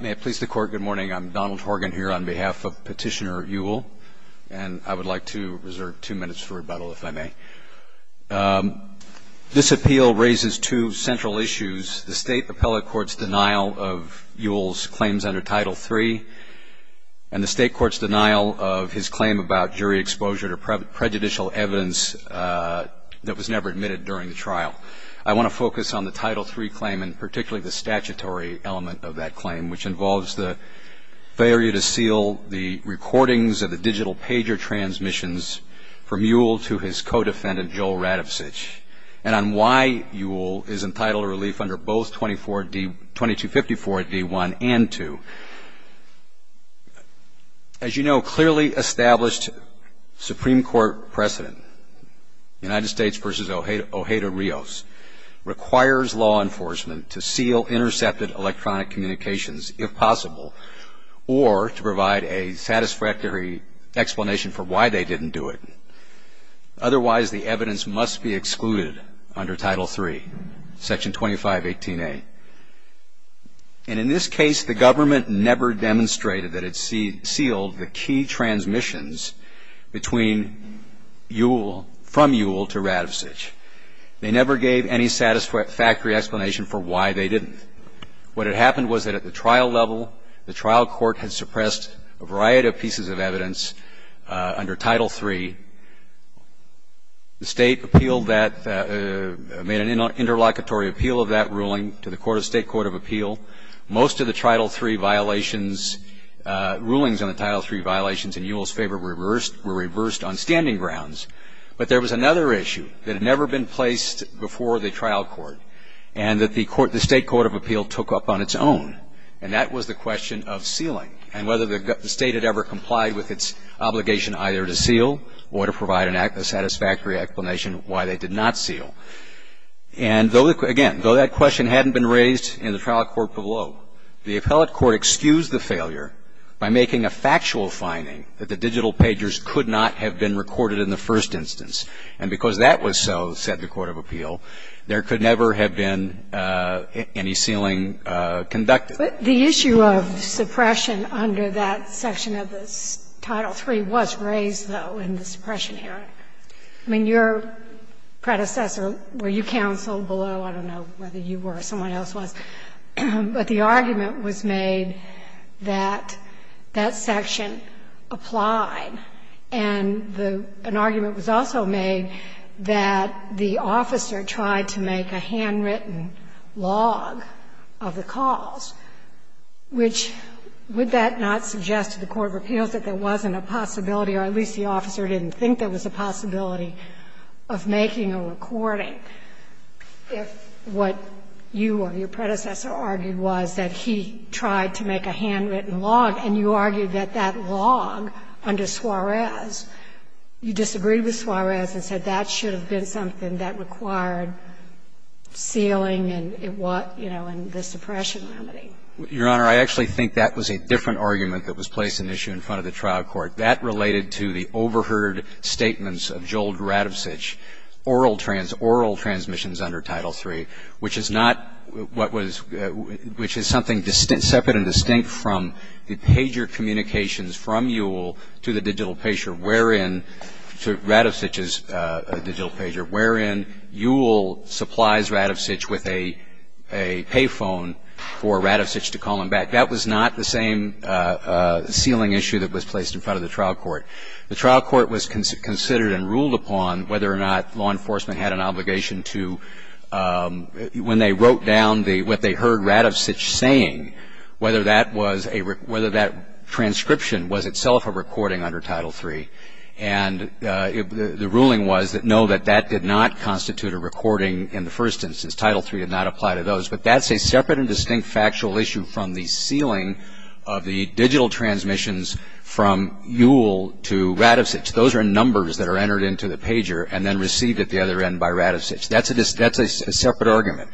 May it please the Court, good morning. I'm Donald Horgan here on behalf of Petitioner Ewell, and I would like to reserve two minutes for rebuttal, if I may. This appeal raises two central issues, the State Appellate Court's denial of Ewell's claims under Title III and the State Court's denial of his claim about jury exposure to prejudicial evidence that was never admitted during the trial. I want to focus on the Title III claim, and particularly the statutory element of that claim, which involves the failure to seal the recordings of the digital pager transmissions from Ewell to his co-defendant, Joel Radovich, and on why Ewell is entitled to relief under both 2254d1 and 2. As you know, clearly established Supreme Court precedent, United States v. Ojeda-Rios, requires law enforcement to seal intercepted electronic communications, if possible, or to provide a satisfactory explanation for why they didn't do it. Otherwise, the evidence must be excluded under Title III, Section 2518a. And in this case, the government never demonstrated that it sealed the key transmissions between Ewell, from Ewell to Radovich. They never gave any satisfactory explanation for why they didn't. What had happened was that at the trial level, the trial court had suppressed a variety of pieces of evidence under Title III. The State appealed that, made an interlocutory appeal of that ruling to the State Court of Appeal. Most of the Title III violations, rulings on the Title III violations in Ewell's favor were reversed on standing grounds. But there was another issue that had never been placed before the trial court, and that the State Court of Appeal took up on its own. And that was the question of sealing, and whether the State had ever complied with its obligation either to seal or to provide a satisfactory explanation why they did not seal. And though, again, though that question hadn't been raised in the trial court below, the appellate court excused the failure by making a factual finding that the digital pagers could not have been recorded in the first instance. And because that was so, said the Court of Appeal, there could never have been any sealing conducted. But the issue of suppression under that section of the Title III was raised, though, in the suppression hearing. I mean, your predecessor, were you counsel below? I don't know whether you were or someone else was. But the argument was made that that section applied. And an argument was also made that the officer tried to make a handwritten log of the calls, which would that not suggest to the Court of Appeals that there wasn't a possibility, or at least the officer didn't think there was a possibility of making a recording if what you or your predecessor argued was that he tried to make a handwritten log, and you argued that that log under Suarez, you disagreed with Suarez and said that should have been something that required sealing and what, you know, and the suppression remedy. Your Honor, I actually think that was a different argument that was placed in issue in front of the trial court. That related to the overheard statements of Joel Radovich, oral transmissions under Title III, which is not what was – which is something separate and distinct from the pager communications from Ewell to the digital pager, wherein – to Radovich's digital pager, wherein Ewell supplies Radovich with a pay phone for Radovich to call him back. That was not the same sealing issue that was placed in front of the trial court. The trial court was considered and ruled upon whether or not law enforcement had an obligation to – when they wrote down what they heard Radovich saying, whether that was a – whether that transcription was itself a recording under Title III. And the ruling was that no, that that did not constitute a recording in the first instance. Title III did not apply to those. But that's a separate and distinct factual issue from the sealing of the digital transmissions from Ewell to Radovich. Those are numbers that are entered into the pager and then received at the other end by Radovich. That's a separate argument.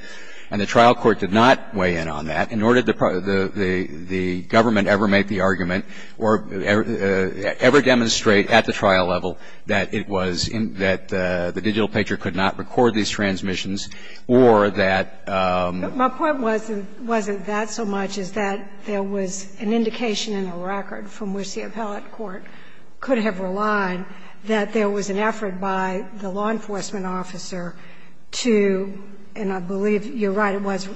And the trial court did not weigh in on that. And nor did the government ever make the argument or ever demonstrate at the trial level that it was – that the digital pager could not record these transmissions or that – My point wasn't that so much as that there was an indication in a record from which the appellate court could have relied that there was an effort by the law enforcement officer to – and I believe you're right, it was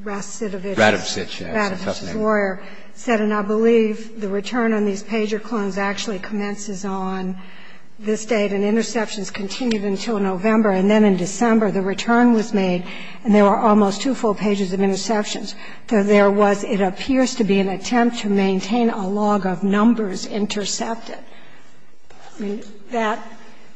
Radovich. Radovich, yes. Radovich-Foyer said, And I believe the return on these pager clones actually commences on this date, and interceptions continued until November. And then in December, the return was made, and there were almost two full pages of interceptions. So there was, it appears to be, an attempt to maintain a log of numbers intercepted. I mean, that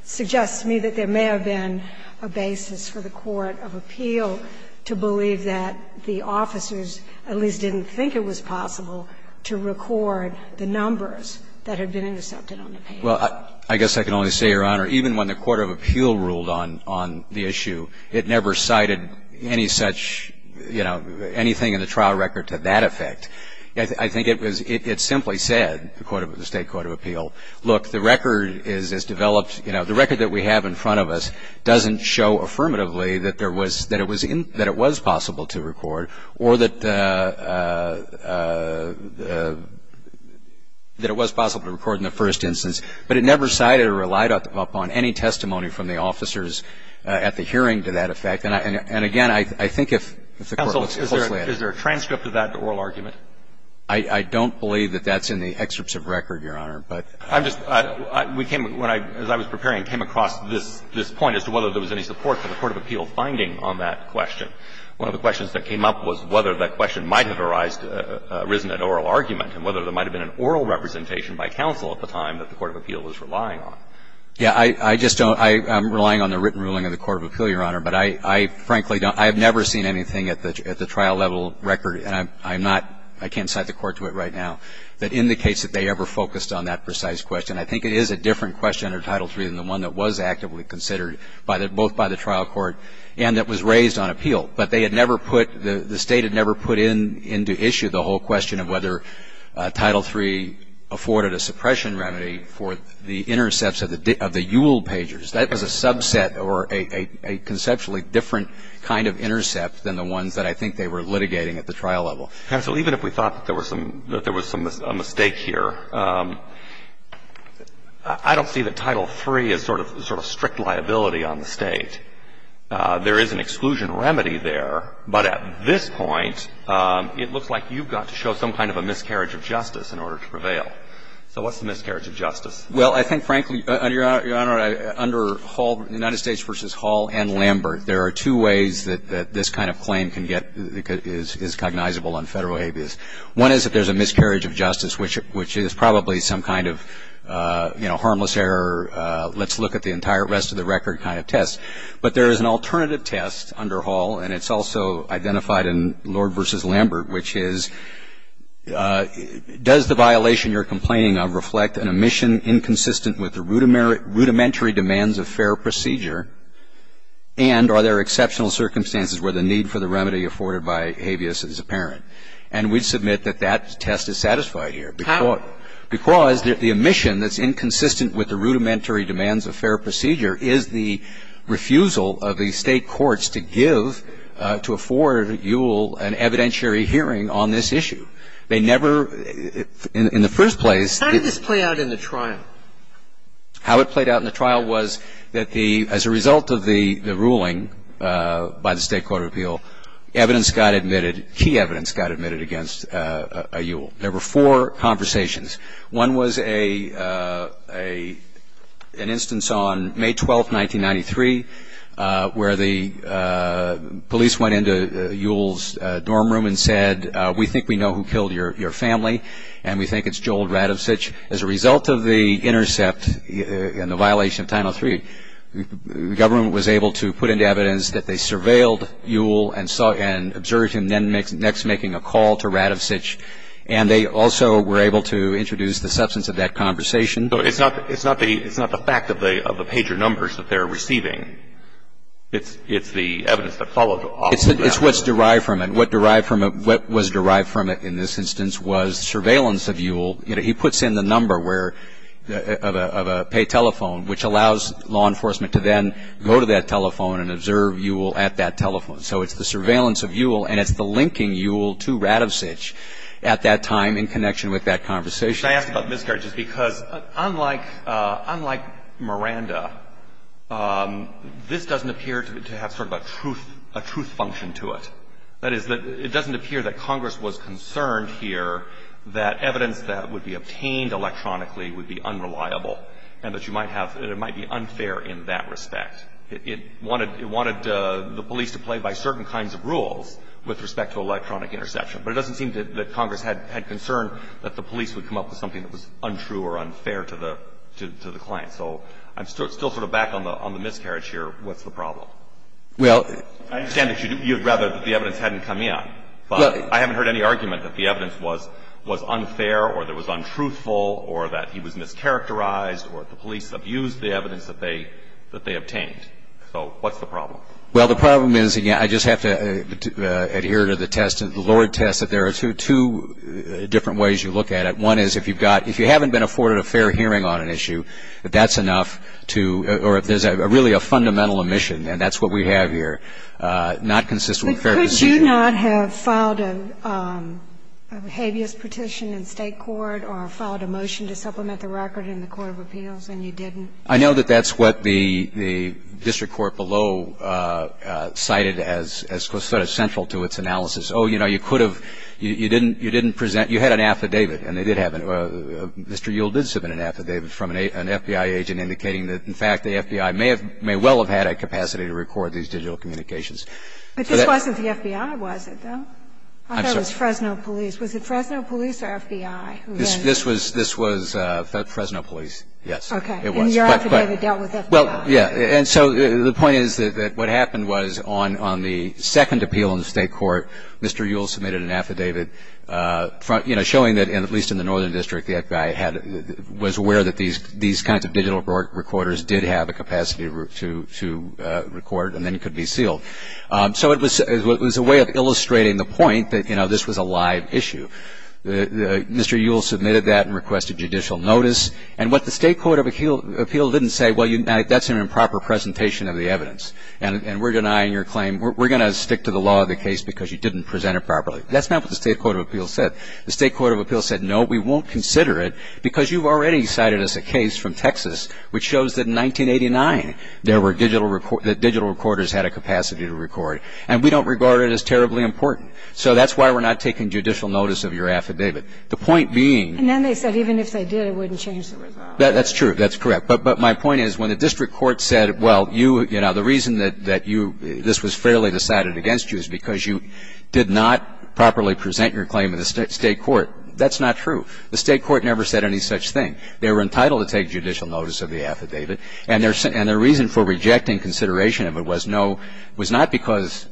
suggests to me that there may have been a basis for the court of appeal to believe that the officers at least didn't think it was possible to record the numbers that had been intercepted on the pager. Well, I guess I can only say, Your Honor, even when the court of appeal ruled on the issue, it never cited any such, you know, anything in the trial record to that effect. I think it was, it simply said, the court of, the State court of appeal, look, the record is as developed, you know, the record that we have in front of us doesn't show affirmatively that there was, that it was possible to record or that it was possible to record in the first instance. But it never cited or relied upon any testimony from the officers at the hearing to that effect. And again, I think if the court looks closely at it. Is there a transcript of that oral argument? I don't believe that that's in the excerpts of record, Your Honor, but. I'm just, we came, as I was preparing, came across this point as to whether there was any support for the court of appeal finding on that question. One of the questions that came up was whether that question might have arisen at oral argument and whether there might have been an oral representation by counsel at the time that the court of appeal was relying on. Yeah, I just don't, I'm relying on the written ruling of the court of appeal, Your Honor, and I frankly don't, I have never seen anything at the trial level record, and I'm not, I can't cite the court to it right now, that indicates that they ever focused on that precise question. I think it is a different question under Title III than the one that was actively considered, both by the trial court and that was raised on appeal. But they had never put, the State had never put into issue the whole question of whether Title III afforded a suppression remedy for the intercepts of the Yule pagers. That was a subset or a conceptually different kind of intercept than the ones that I think they were litigating at the trial level. Counsel, even if we thought that there was some mistake here, I don't see that Title III is sort of strict liability on the State. There is an exclusion remedy there, but at this point, it looks like you've got to show some kind of a miscarriage of justice in order to prevail. So what's the miscarriage of justice? Well, I think, frankly, Your Honor, under Hall, United States v. Hall and Lambert, there are two ways that this kind of claim can get, is cognizable on Federal habeas. One is that there's a miscarriage of justice, which is probably some kind of, you know, harmless error, let's look at the entire rest of the record kind of test. But there is an alternative test under Hall, and it's also identified in Lord v. Lambert, which is, does the violation you're complaining of reflect an omission that's inconsistent with the rudimentary demands of fair procedure, and are there exceptional circumstances where the need for the remedy afforded by habeas is apparent? And we submit that that test is satisfied here. How? Because the omission that's inconsistent with the rudimentary demands of fair procedure is the refusal of the State courts to give, to afford you an evidentiary hearing on this issue. They never, in the first place, the How did this play out in the trial? How it played out in the trial was that the, as a result of the ruling by the State Court of Appeal, evidence got admitted, key evidence got admitted against Yule. There were four conversations. One was an instance on May 12, 1993, where the police went into Yule's dorm room and said, we think we know who killed your family, and we think it's Joel Radovich. As a result of the intercept and the violation of Title III, the government was able to put into evidence that they surveilled Yule and observed him next making a call to Radovich, and they also were able to introduce the substance of that conversation. So it's not the fact of the pager numbers that they're receiving. It's the evidence that followed. It's what's derived from it. What was derived from it in this instance was surveillance of Yule. You know, he puts in the number where, of a pay telephone, which allows law enforcement to then go to that telephone and observe Yule at that telephone. So it's the surveillance of Yule, and it's the linking Yule to Radovich at that time in connection with that conversation. I asked about miscarriages because unlike Miranda, this doesn't appear to have sort of a truth, a truth function to it. That is, it doesn't appear that Congress was concerned here that evidence that would be obtained electronically would be unreliable and that you might have, that it might be unfair in that respect. It wanted the police to play by certain kinds of rules with respect to electronic interception, but it doesn't seem that Congress had concern that the police would come up with something that was untrue or unfair to the client. So I'm still sort of back on the miscarriage here. What's the problem? I understand that you'd rather that the evidence hadn't come in. But I haven't heard any argument that the evidence was unfair or that it was untruthful or that he was mischaracterized or that the police abused the evidence that they obtained. So what's the problem? Well, the problem is, again, I just have to adhere to the test, the Lord test, that there are two different ways you look at it. One is if you've got, if you haven't been afforded a fair hearing on an issue, that that's enough to, or if there's really a fundamental omission, and that's what we have here, not consistent with fair procedure. But could you not have filed a habeas petition in State court or filed a motion to supplement the record in the court of appeals and you didn't? I know that that's what the district court below cited as sort of central to its analysis. Oh, you know, you could have, you didn't present, you had an affidavit, and they did have Mr. Yule did submit an affidavit from an FBI agent indicating that, in fact, the FBI may have, may well have had a capacity to record these digital communications. But this wasn't the FBI, was it, though? I'm sorry. I thought it was Fresno police. Was it Fresno police or FBI? This was, this was Fresno police, yes. Okay. It was. And your affidavit dealt with FBI. Well, yeah. And so the point is that what happened was on the second appeal in the State court, Mr. Yule submitted an affidavit, you know, showing that, at least in the northern district, the FBI was aware that these kinds of digital recorders did have a capacity to record and then could be sealed. So it was a way of illustrating the point that, you know, this was a live issue. Mr. Yule submitted that and requested judicial notice. And what the State court of appeal didn't say, well, that's an improper presentation of the evidence, and we're denying your claim. We're going to stick to the law of the case because you didn't present it properly. That's not what the State court of appeal said. The State court of appeal said, no, we won't consider it because you've already cited us a case from Texas which shows that in 1989 there were digital recorders, that digital recorders had a capacity to record. And we don't regard it as terribly important. So that's why we're not taking judicial notice of your affidavit. The point being. And then they said even if they did, it wouldn't change the result. That's true. That's correct. But my point is when the district court said, well, you, you know, the reason that you this was fairly decided against you is because you did not properly present your claim in the State court, that's not true. The State court never said any such thing. They were entitled to take judicial notice of the affidavit. And their reason for rejecting consideration of it was no, it was not because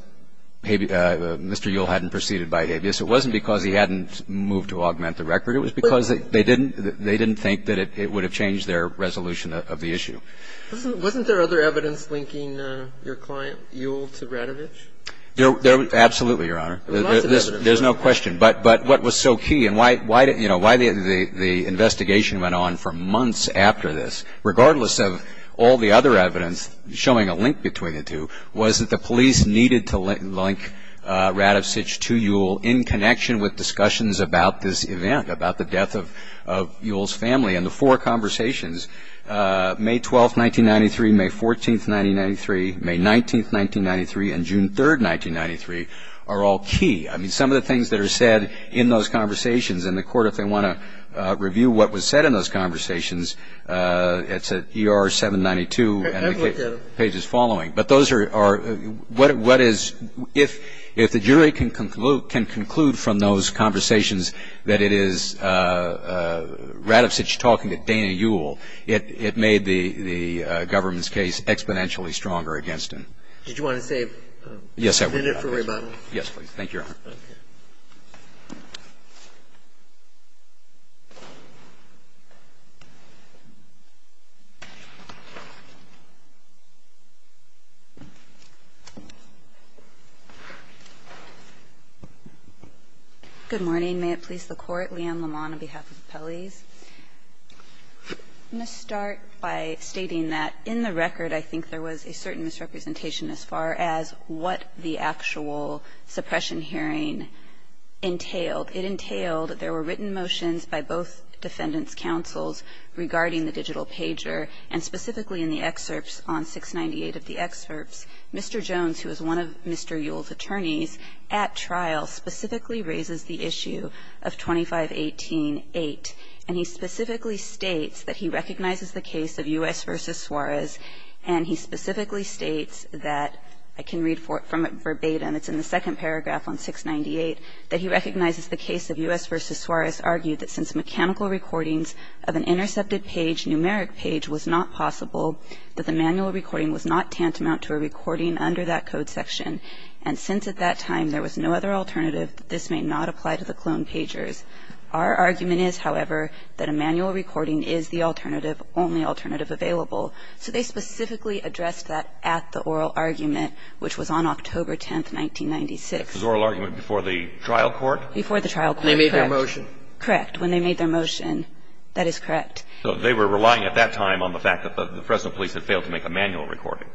Mr. Yule hadn't proceeded by habeas. It wasn't because he hadn't moved to augment the record. It was because they didn't think that it would have changed their resolution of the issue. Wasn't there other evidence linking your client, Yule, to Radovich? Absolutely, Your Honor. There's no question. But what was so key and why the investigation went on for months after this, regardless of all the other evidence showing a link between the two, was that the police needed to link Radovich to Yule in connection with discussions about this event, about the death of Yule's family, and the four conversations, May 12th, 1993, May 14th, 1993, May 19th, 1993, and June 3rd, 1993, are all key. I mean, some of the things that are said in those conversations, and the Court, if they want to review what was said in those conversations, it's at ER 792 and the page is following. But those are what is, if the jury can conclude from those conversations that it is Radovich talking to Dana Yule, it made the government's case exponentially stronger against him. Did you want to save a minute for rebuttal? Yes, I would, Your Honor. Yes, please. Good morning. May it please the Court. Leigh Ann Lamont on behalf of Appellees. I'm going to start by stating that in the record, I think there was a certain misrepresentation as far as what the actual suppression hearing entailed. It entailed that there were written motions by both defendants' counsels regarding the digital pager, and specifically in the excerpts on 698 of the excerpts, Mr. Jones, who is one of Mr. Yule's attorneys at trial, specifically raises the issue of 2518-8. And he specifically states that he recognizes the case of U.S. v. Suarez, and he specifically states that, I can read from it verbatim, it's in the second paragraph on 698, that he recognizes the case of U.S. v. Suarez argued that since mechanical recordings of an intercepted page, numeric page, was not possible, that the manual recording was not tantamount to a recording under that code section, and since at that time there was no other alternative, this may not apply to the cloned pagers. Our argument is, however, that a manual recording is the alternative, only alternative available. So they specifically addressed that at the oral argument, which was on October 10, 1996. The oral argument before the trial court? Before the trial court, correct. When they made their motion. Correct. When they made their motion. That is correct. So they were relying at that time on the fact that the Fresno police had failed to make a manual recording.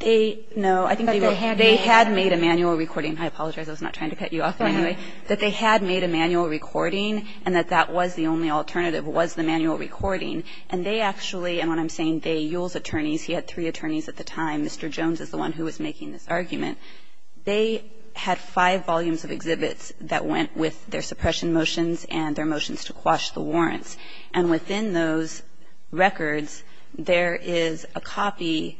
They, no, I think they were, they had made a manual recording. I apologize. I was not trying to cut you off. Anyway, that they had made a manual recording, and that that was the only alternative was the manual recording. And they actually, and when I'm saying they, Yule's attorneys, he had three attorneys at the time. Mr. Jones is the one who was making this argument. They had five volumes of exhibits that went with their suppression motions and their motions to quash the warrants. And within those records, there is a copy,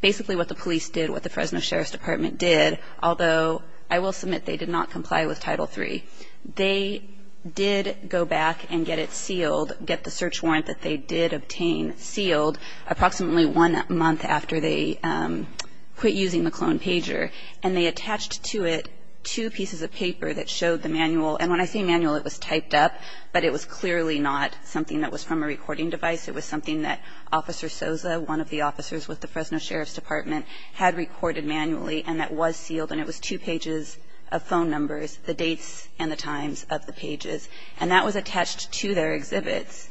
basically what the police did, what the Fresno Sheriff's Department did, although I will submit they did not comply with Title III. They did go back and get it sealed, get the search warrant that they did obtain sealed, approximately one month after they quit using the clone pager. And they attached to it two pieces of paper that showed the manual. And when I say manual, it was typed up, but it was clearly not something that was from a recording device. It was something that Officer Sosa, one of the officers with the Fresno Sheriff's Department, had recorded manually, and that was sealed. And it was two pages of phone numbers, the dates and the times of the pages. And that was attached to their exhibits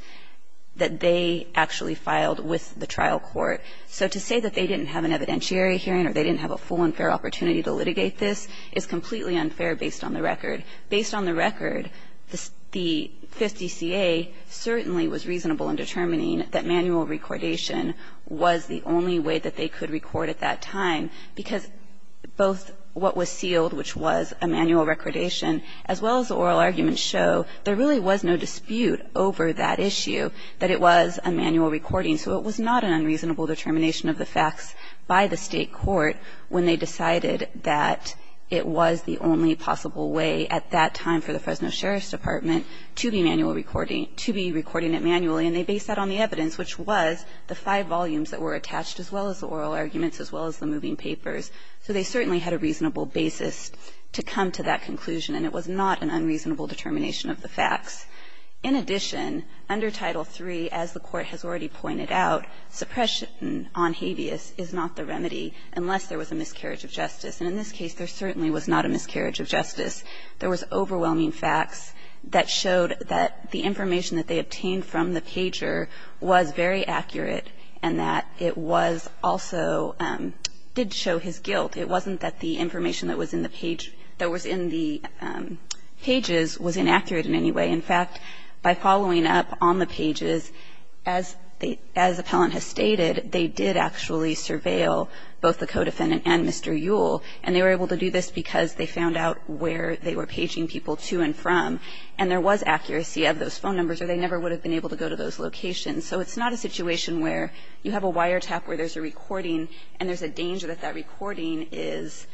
that they actually filed with the trial court. So to say that they didn't have an evidentiary hearing or they didn't have a full and fair opportunity to litigate this is completely unfair based on the record. Based on the record, the 50 CA certainly was reasonable in determining that manual recordation was the only way that they could record at that time, because both what was sealed, which was a manual recordation, as well as the oral arguments show, there really was no dispute over that issue, that it was a manual recording. So it was not an unreasonable determination of the facts by the state court when they decided that it was the only possible way at that time for the Fresno Sheriff's Department to be manual recording, to be recording it manually. And they based that on the evidence, which was the five volumes that were attached, as well as the oral arguments, as well as the moving papers. So they certainly had a reasonable basis to come to that conclusion, and it was not an unreasonable determination of the facts. In addition, under Title III, as the Court has already pointed out, suppression on habeas is not the remedy unless there was a miscarriage of justice. And in this case, there certainly was not a miscarriage of justice. There was overwhelming facts that showed that the information that they obtained from the pager was very accurate and that it also did show his guilt. It wasn't that the information that was in the pages was inaccurate in any way. In fact, by following up on the pages, as the appellant has stated, they did actually surveil both the co-defendant and Mr. Yule, and they were able to do this because they found out where they were paging people to and from. And there was accuracy of those phone numbers, or they never would have been able to go to those locations. So it's not a situation where you have a wiretap where there's a recording and there's a danger that that recording has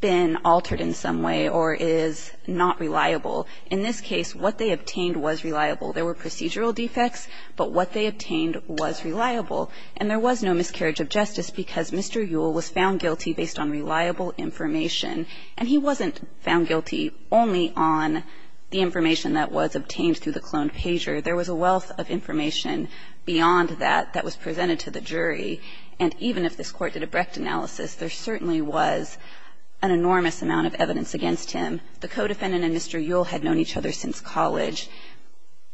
been altered in some way or is not reliable. In this case, what they obtained was reliable. There were procedural defects, but what they obtained was reliable. And there was no miscarriage of justice because Mr. Yule was found guilty based on reliable information. And he wasn't found guilty only on the information that was obtained through the cloned pager. There was a wealth of information beyond that that was presented to the jury. And even if this Court did a Brecht analysis, there certainly was an enormous amount of evidence against him. The co-defendant and Mr. Yule had known each other since college.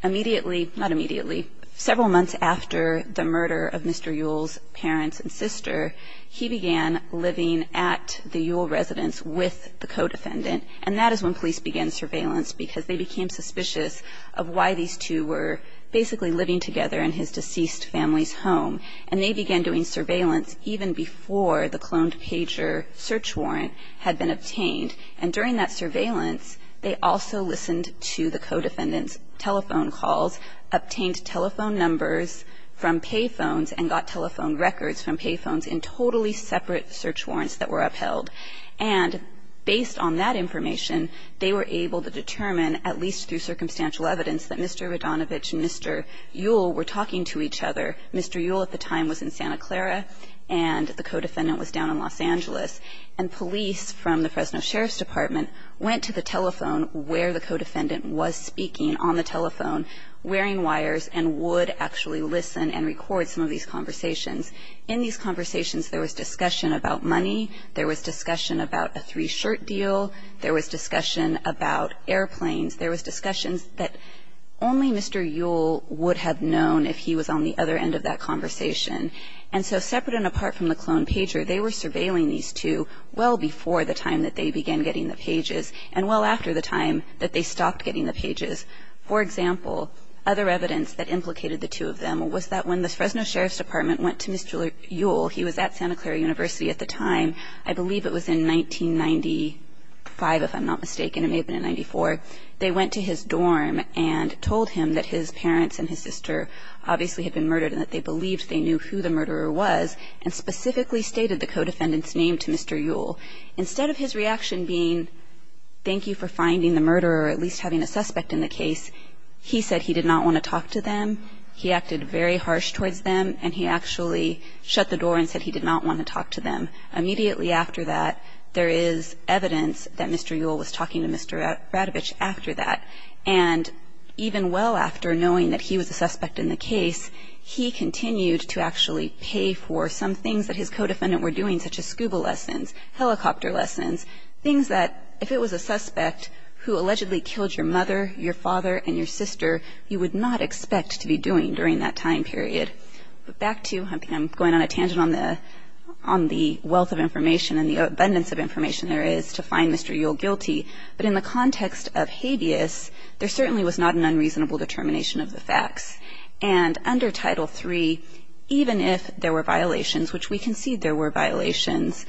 Immediately, not immediately, several months after the murder of Mr. Yule's parents and sister, he began living at the Yule residence with the co-defendant. And that is when police began surveillance because they became suspicious of why these two were basically living together in his deceased family's home. And they began doing surveillance even before the cloned pager search warrant had been obtained. And during that surveillance, they also listened to the co-defendant's telephone calls, obtained telephone numbers from pay phones, and got telephone records from pay phones in totally separate search warrants that were upheld. And based on that information, they were able to determine, at least through circumstantial evidence, that Mr. Radonovich and Mr. Yule were talking to each other. Mr. Yule at the time was in Santa Clara, and the co-defendant was down in Los Angeles. And police from the Fresno Sheriff's Department went to the telephone where the co-defendant was speaking on the telephone, wearing wires, and would actually listen and record some of these conversations. In these conversations, there was discussion about money. There was discussion about a three-shirt deal. There was discussion about airplanes. There was discussions that only Mr. Yule would have known if he was on the other end of that conversation. And so separate and apart from the cloned pager, they were surveilling these two well before the time that they began getting the pages and well after the time that they stopped getting the pages. For example, other evidence that implicated the two of them was that when the Fresno Sheriff's Department went to Mr. Yule, he was at Santa Clara University at the time. I believe it was in 1995, if I'm not mistaken. It may have been in 94. They went to his dorm and told him that his parents and his sister obviously had been murdered and that they believed they knew who the murderer was and specifically stated the co-defendant's name to Mr. Yule. Instead of his reaction being, thank you for finding the murderer or at least having a suspect in the case, he said he did not want to talk to them. He acted very harsh towards them and he actually shut the door and said he did not want to talk to them. Immediately after that, there is evidence that Mr. Yule was talking to Mr. Radovich after that. And even well after knowing that he was a suspect in the case, he continued to actually pay for some things that his co-defendant were doing, such as scuba lessons. Helicopter lessons. Things that if it was a suspect who allegedly killed your mother, your father, and your sister, you would not expect to be doing during that time period. Back to, I'm going on a tangent on the wealth of information and the abundance of information there is to find Mr. Yule guilty, but in the context of habeas, there certainly was not an unreasonable determination of the facts. And under Title III, even if there were violations, which we concede there were violations,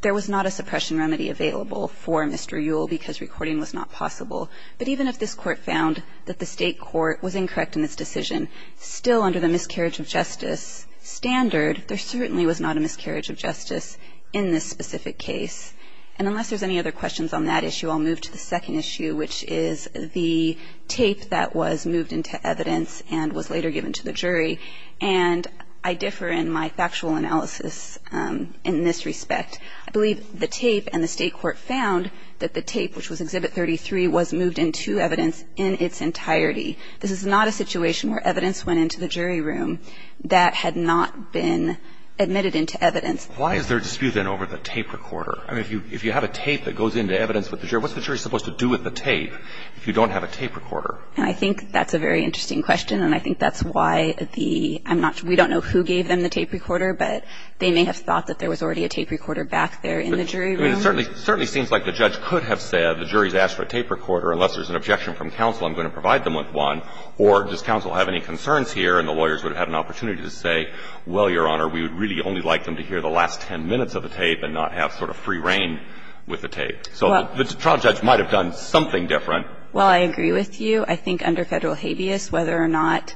there was not a suppression remedy available for Mr. Yule because recording was not possible. But even if this court found that the state court was incorrect in its decision, still under the miscarriage of justice standard, there certainly was not a miscarriage of justice in this specific case. And unless there's any other questions on that issue, I'll move to the second issue, which is the tape that was moved into evidence and was later given to the jury. And I differ in my factual analysis in this respect. I believe the tape and the state court found that the tape, which was Exhibit 33, was moved into evidence in its entirety. This is not a situation where evidence went into the jury room that had not been admitted into evidence. Why is there a dispute then over the tape recorder? I mean, if you have a tape that goes into evidence with the jury, what's the jury supposed to do with the tape if you don't have a tape recorder? And I think that's a very interesting question. And I think that's why the – I'm not – we don't know who gave them the tape recorder, but they may have thought that there was already a tape recorder back there in the jury room. I mean, it certainly seems like the judge could have said the jury's asked for a tape recorder. Unless there's an objection from counsel, I'm going to provide them with one. Or does counsel have any concerns here and the lawyers would have had an opportunity to say, well, Your Honor, we would really only like them to hear the last 10 minutes of the tape and not have sort of free reign with the tape. So the trial judge might have done something different. Well, I agree with you. I think under Federal habeas, whether or not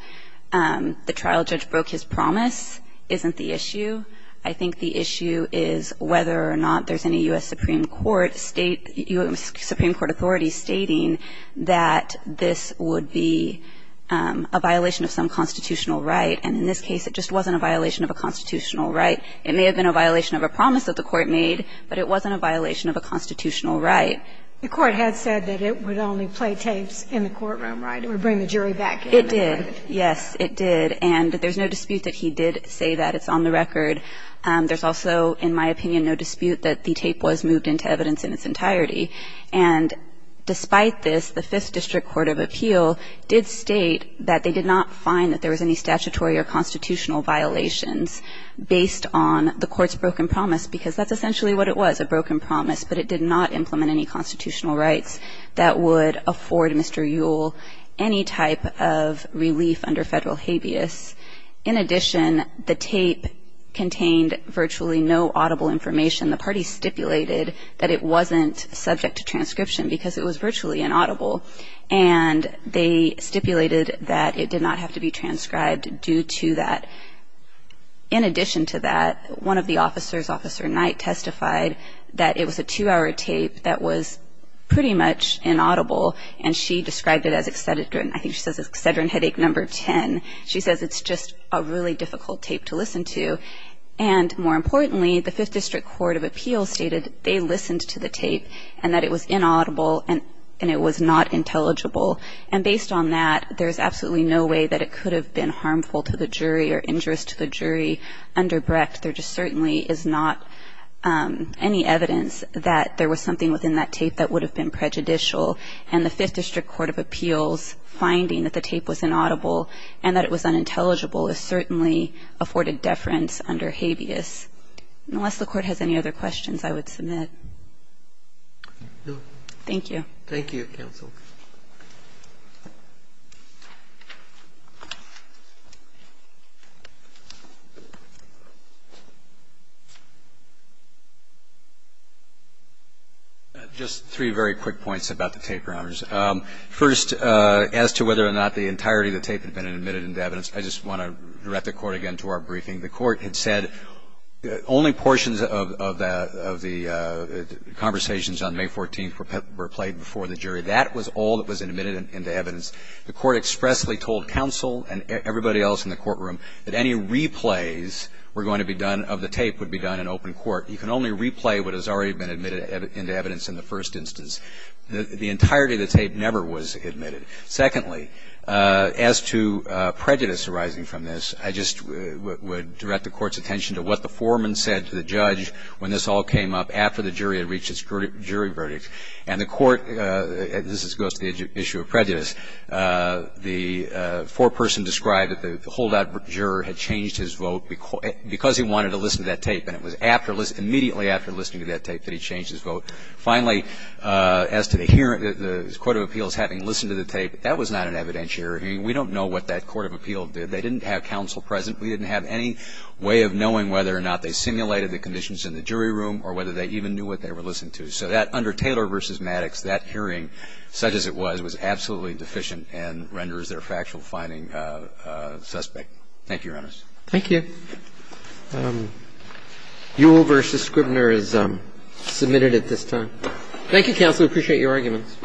the trial judge broke his promise isn't the issue. I think the issue is whether or not there's any U.S. Supreme Court state – U.S. Supreme Court authorities stating that this would be a violation of some constitutional right. And in this case, it just wasn't a violation of a constitutional right. It may have been a violation of a promise that the Court made, but it wasn't a violation of a constitutional right. The Court had said that it would only play tapes in the courtroom, right, or bring the jury back in. It did. Yes, it did. And there's no dispute that he did say that. It's on the record. There's also, in my opinion, no dispute that the tape was moved into evidence in its entirety. And despite this, the Fifth District Court of Appeal did state that they did not find that there was any statutory or constitutional violations based on the Court's broken promise, because that's essentially what it was, a broken promise. But it did not implement any constitutional rights that would afford Mr. Yule any type of relief under Federal habeas. In addition, the tape contained virtually no audible information. The parties stipulated that it wasn't subject to transcription because it was virtually inaudible. And they stipulated that it did not have to be transcribed due to that. In addition to that, one of the officers, Officer Knight, testified that it was a two-hour tape that was pretty much inaudible, and she described it as excedrin. I think she says it's excedrin headache number 10. She says it's just a really difficult tape to listen to. And more importantly, the Fifth District Court of Appeal stated they listened to the And based on that, there's absolutely no way that it could have been harmful to the jury or injurious to the jury under Brecht. There just certainly is not any evidence that there was something within that tape that would have been prejudicial. And the Fifth District Court of Appeals finding that the tape was inaudible and that it was unintelligible is certainly afforded deference under habeas. Unless the Court has any other questions, I would submit. Thank you. Thank you, counsel. Just three very quick points about the tape, Your Honors. First, as to whether or not the entirety of the tape had been admitted into evidence, I just want to direct the Court again to our briefing. The Court had said only portions of the conversations on May 14th were played before the jury. That was all that was admitted into evidence. The Court expressly told counsel and everybody else in the courtroom that any replays were going to be done of the tape would be done in open court. You can only replay what has already been admitted into evidence in the first instance. The entirety of the tape never was admitted. Secondly, as to prejudice arising from this, I just would direct the Court's attention to what the foreman said to the judge when this all came up after the jury had reached its jury verdict. And the Court goes to the issue of prejudice. The foreperson described that the holdout juror had changed his vote because he wanted to listen to that tape, and it was immediately after listening to that tape that he changed his vote. Finally, as to the hearing, the court of appeals having listened to the tape, that was not an evidentiary hearing. We don't know what that court of appeal did. They didn't have counsel present. We didn't have any way of knowing whether or not they simulated the conditions in the jury room or whether they even knew what they were listening to. So that, under Taylor v. Maddox, that hearing, such as it was, was absolutely deficient and renders their factual finding suspect. Thank you, Your Honors. Thank you. Thank you. Uh, Yule v. Scribner is submitted at this time. Thank you, counsel. Appreciate your arguments.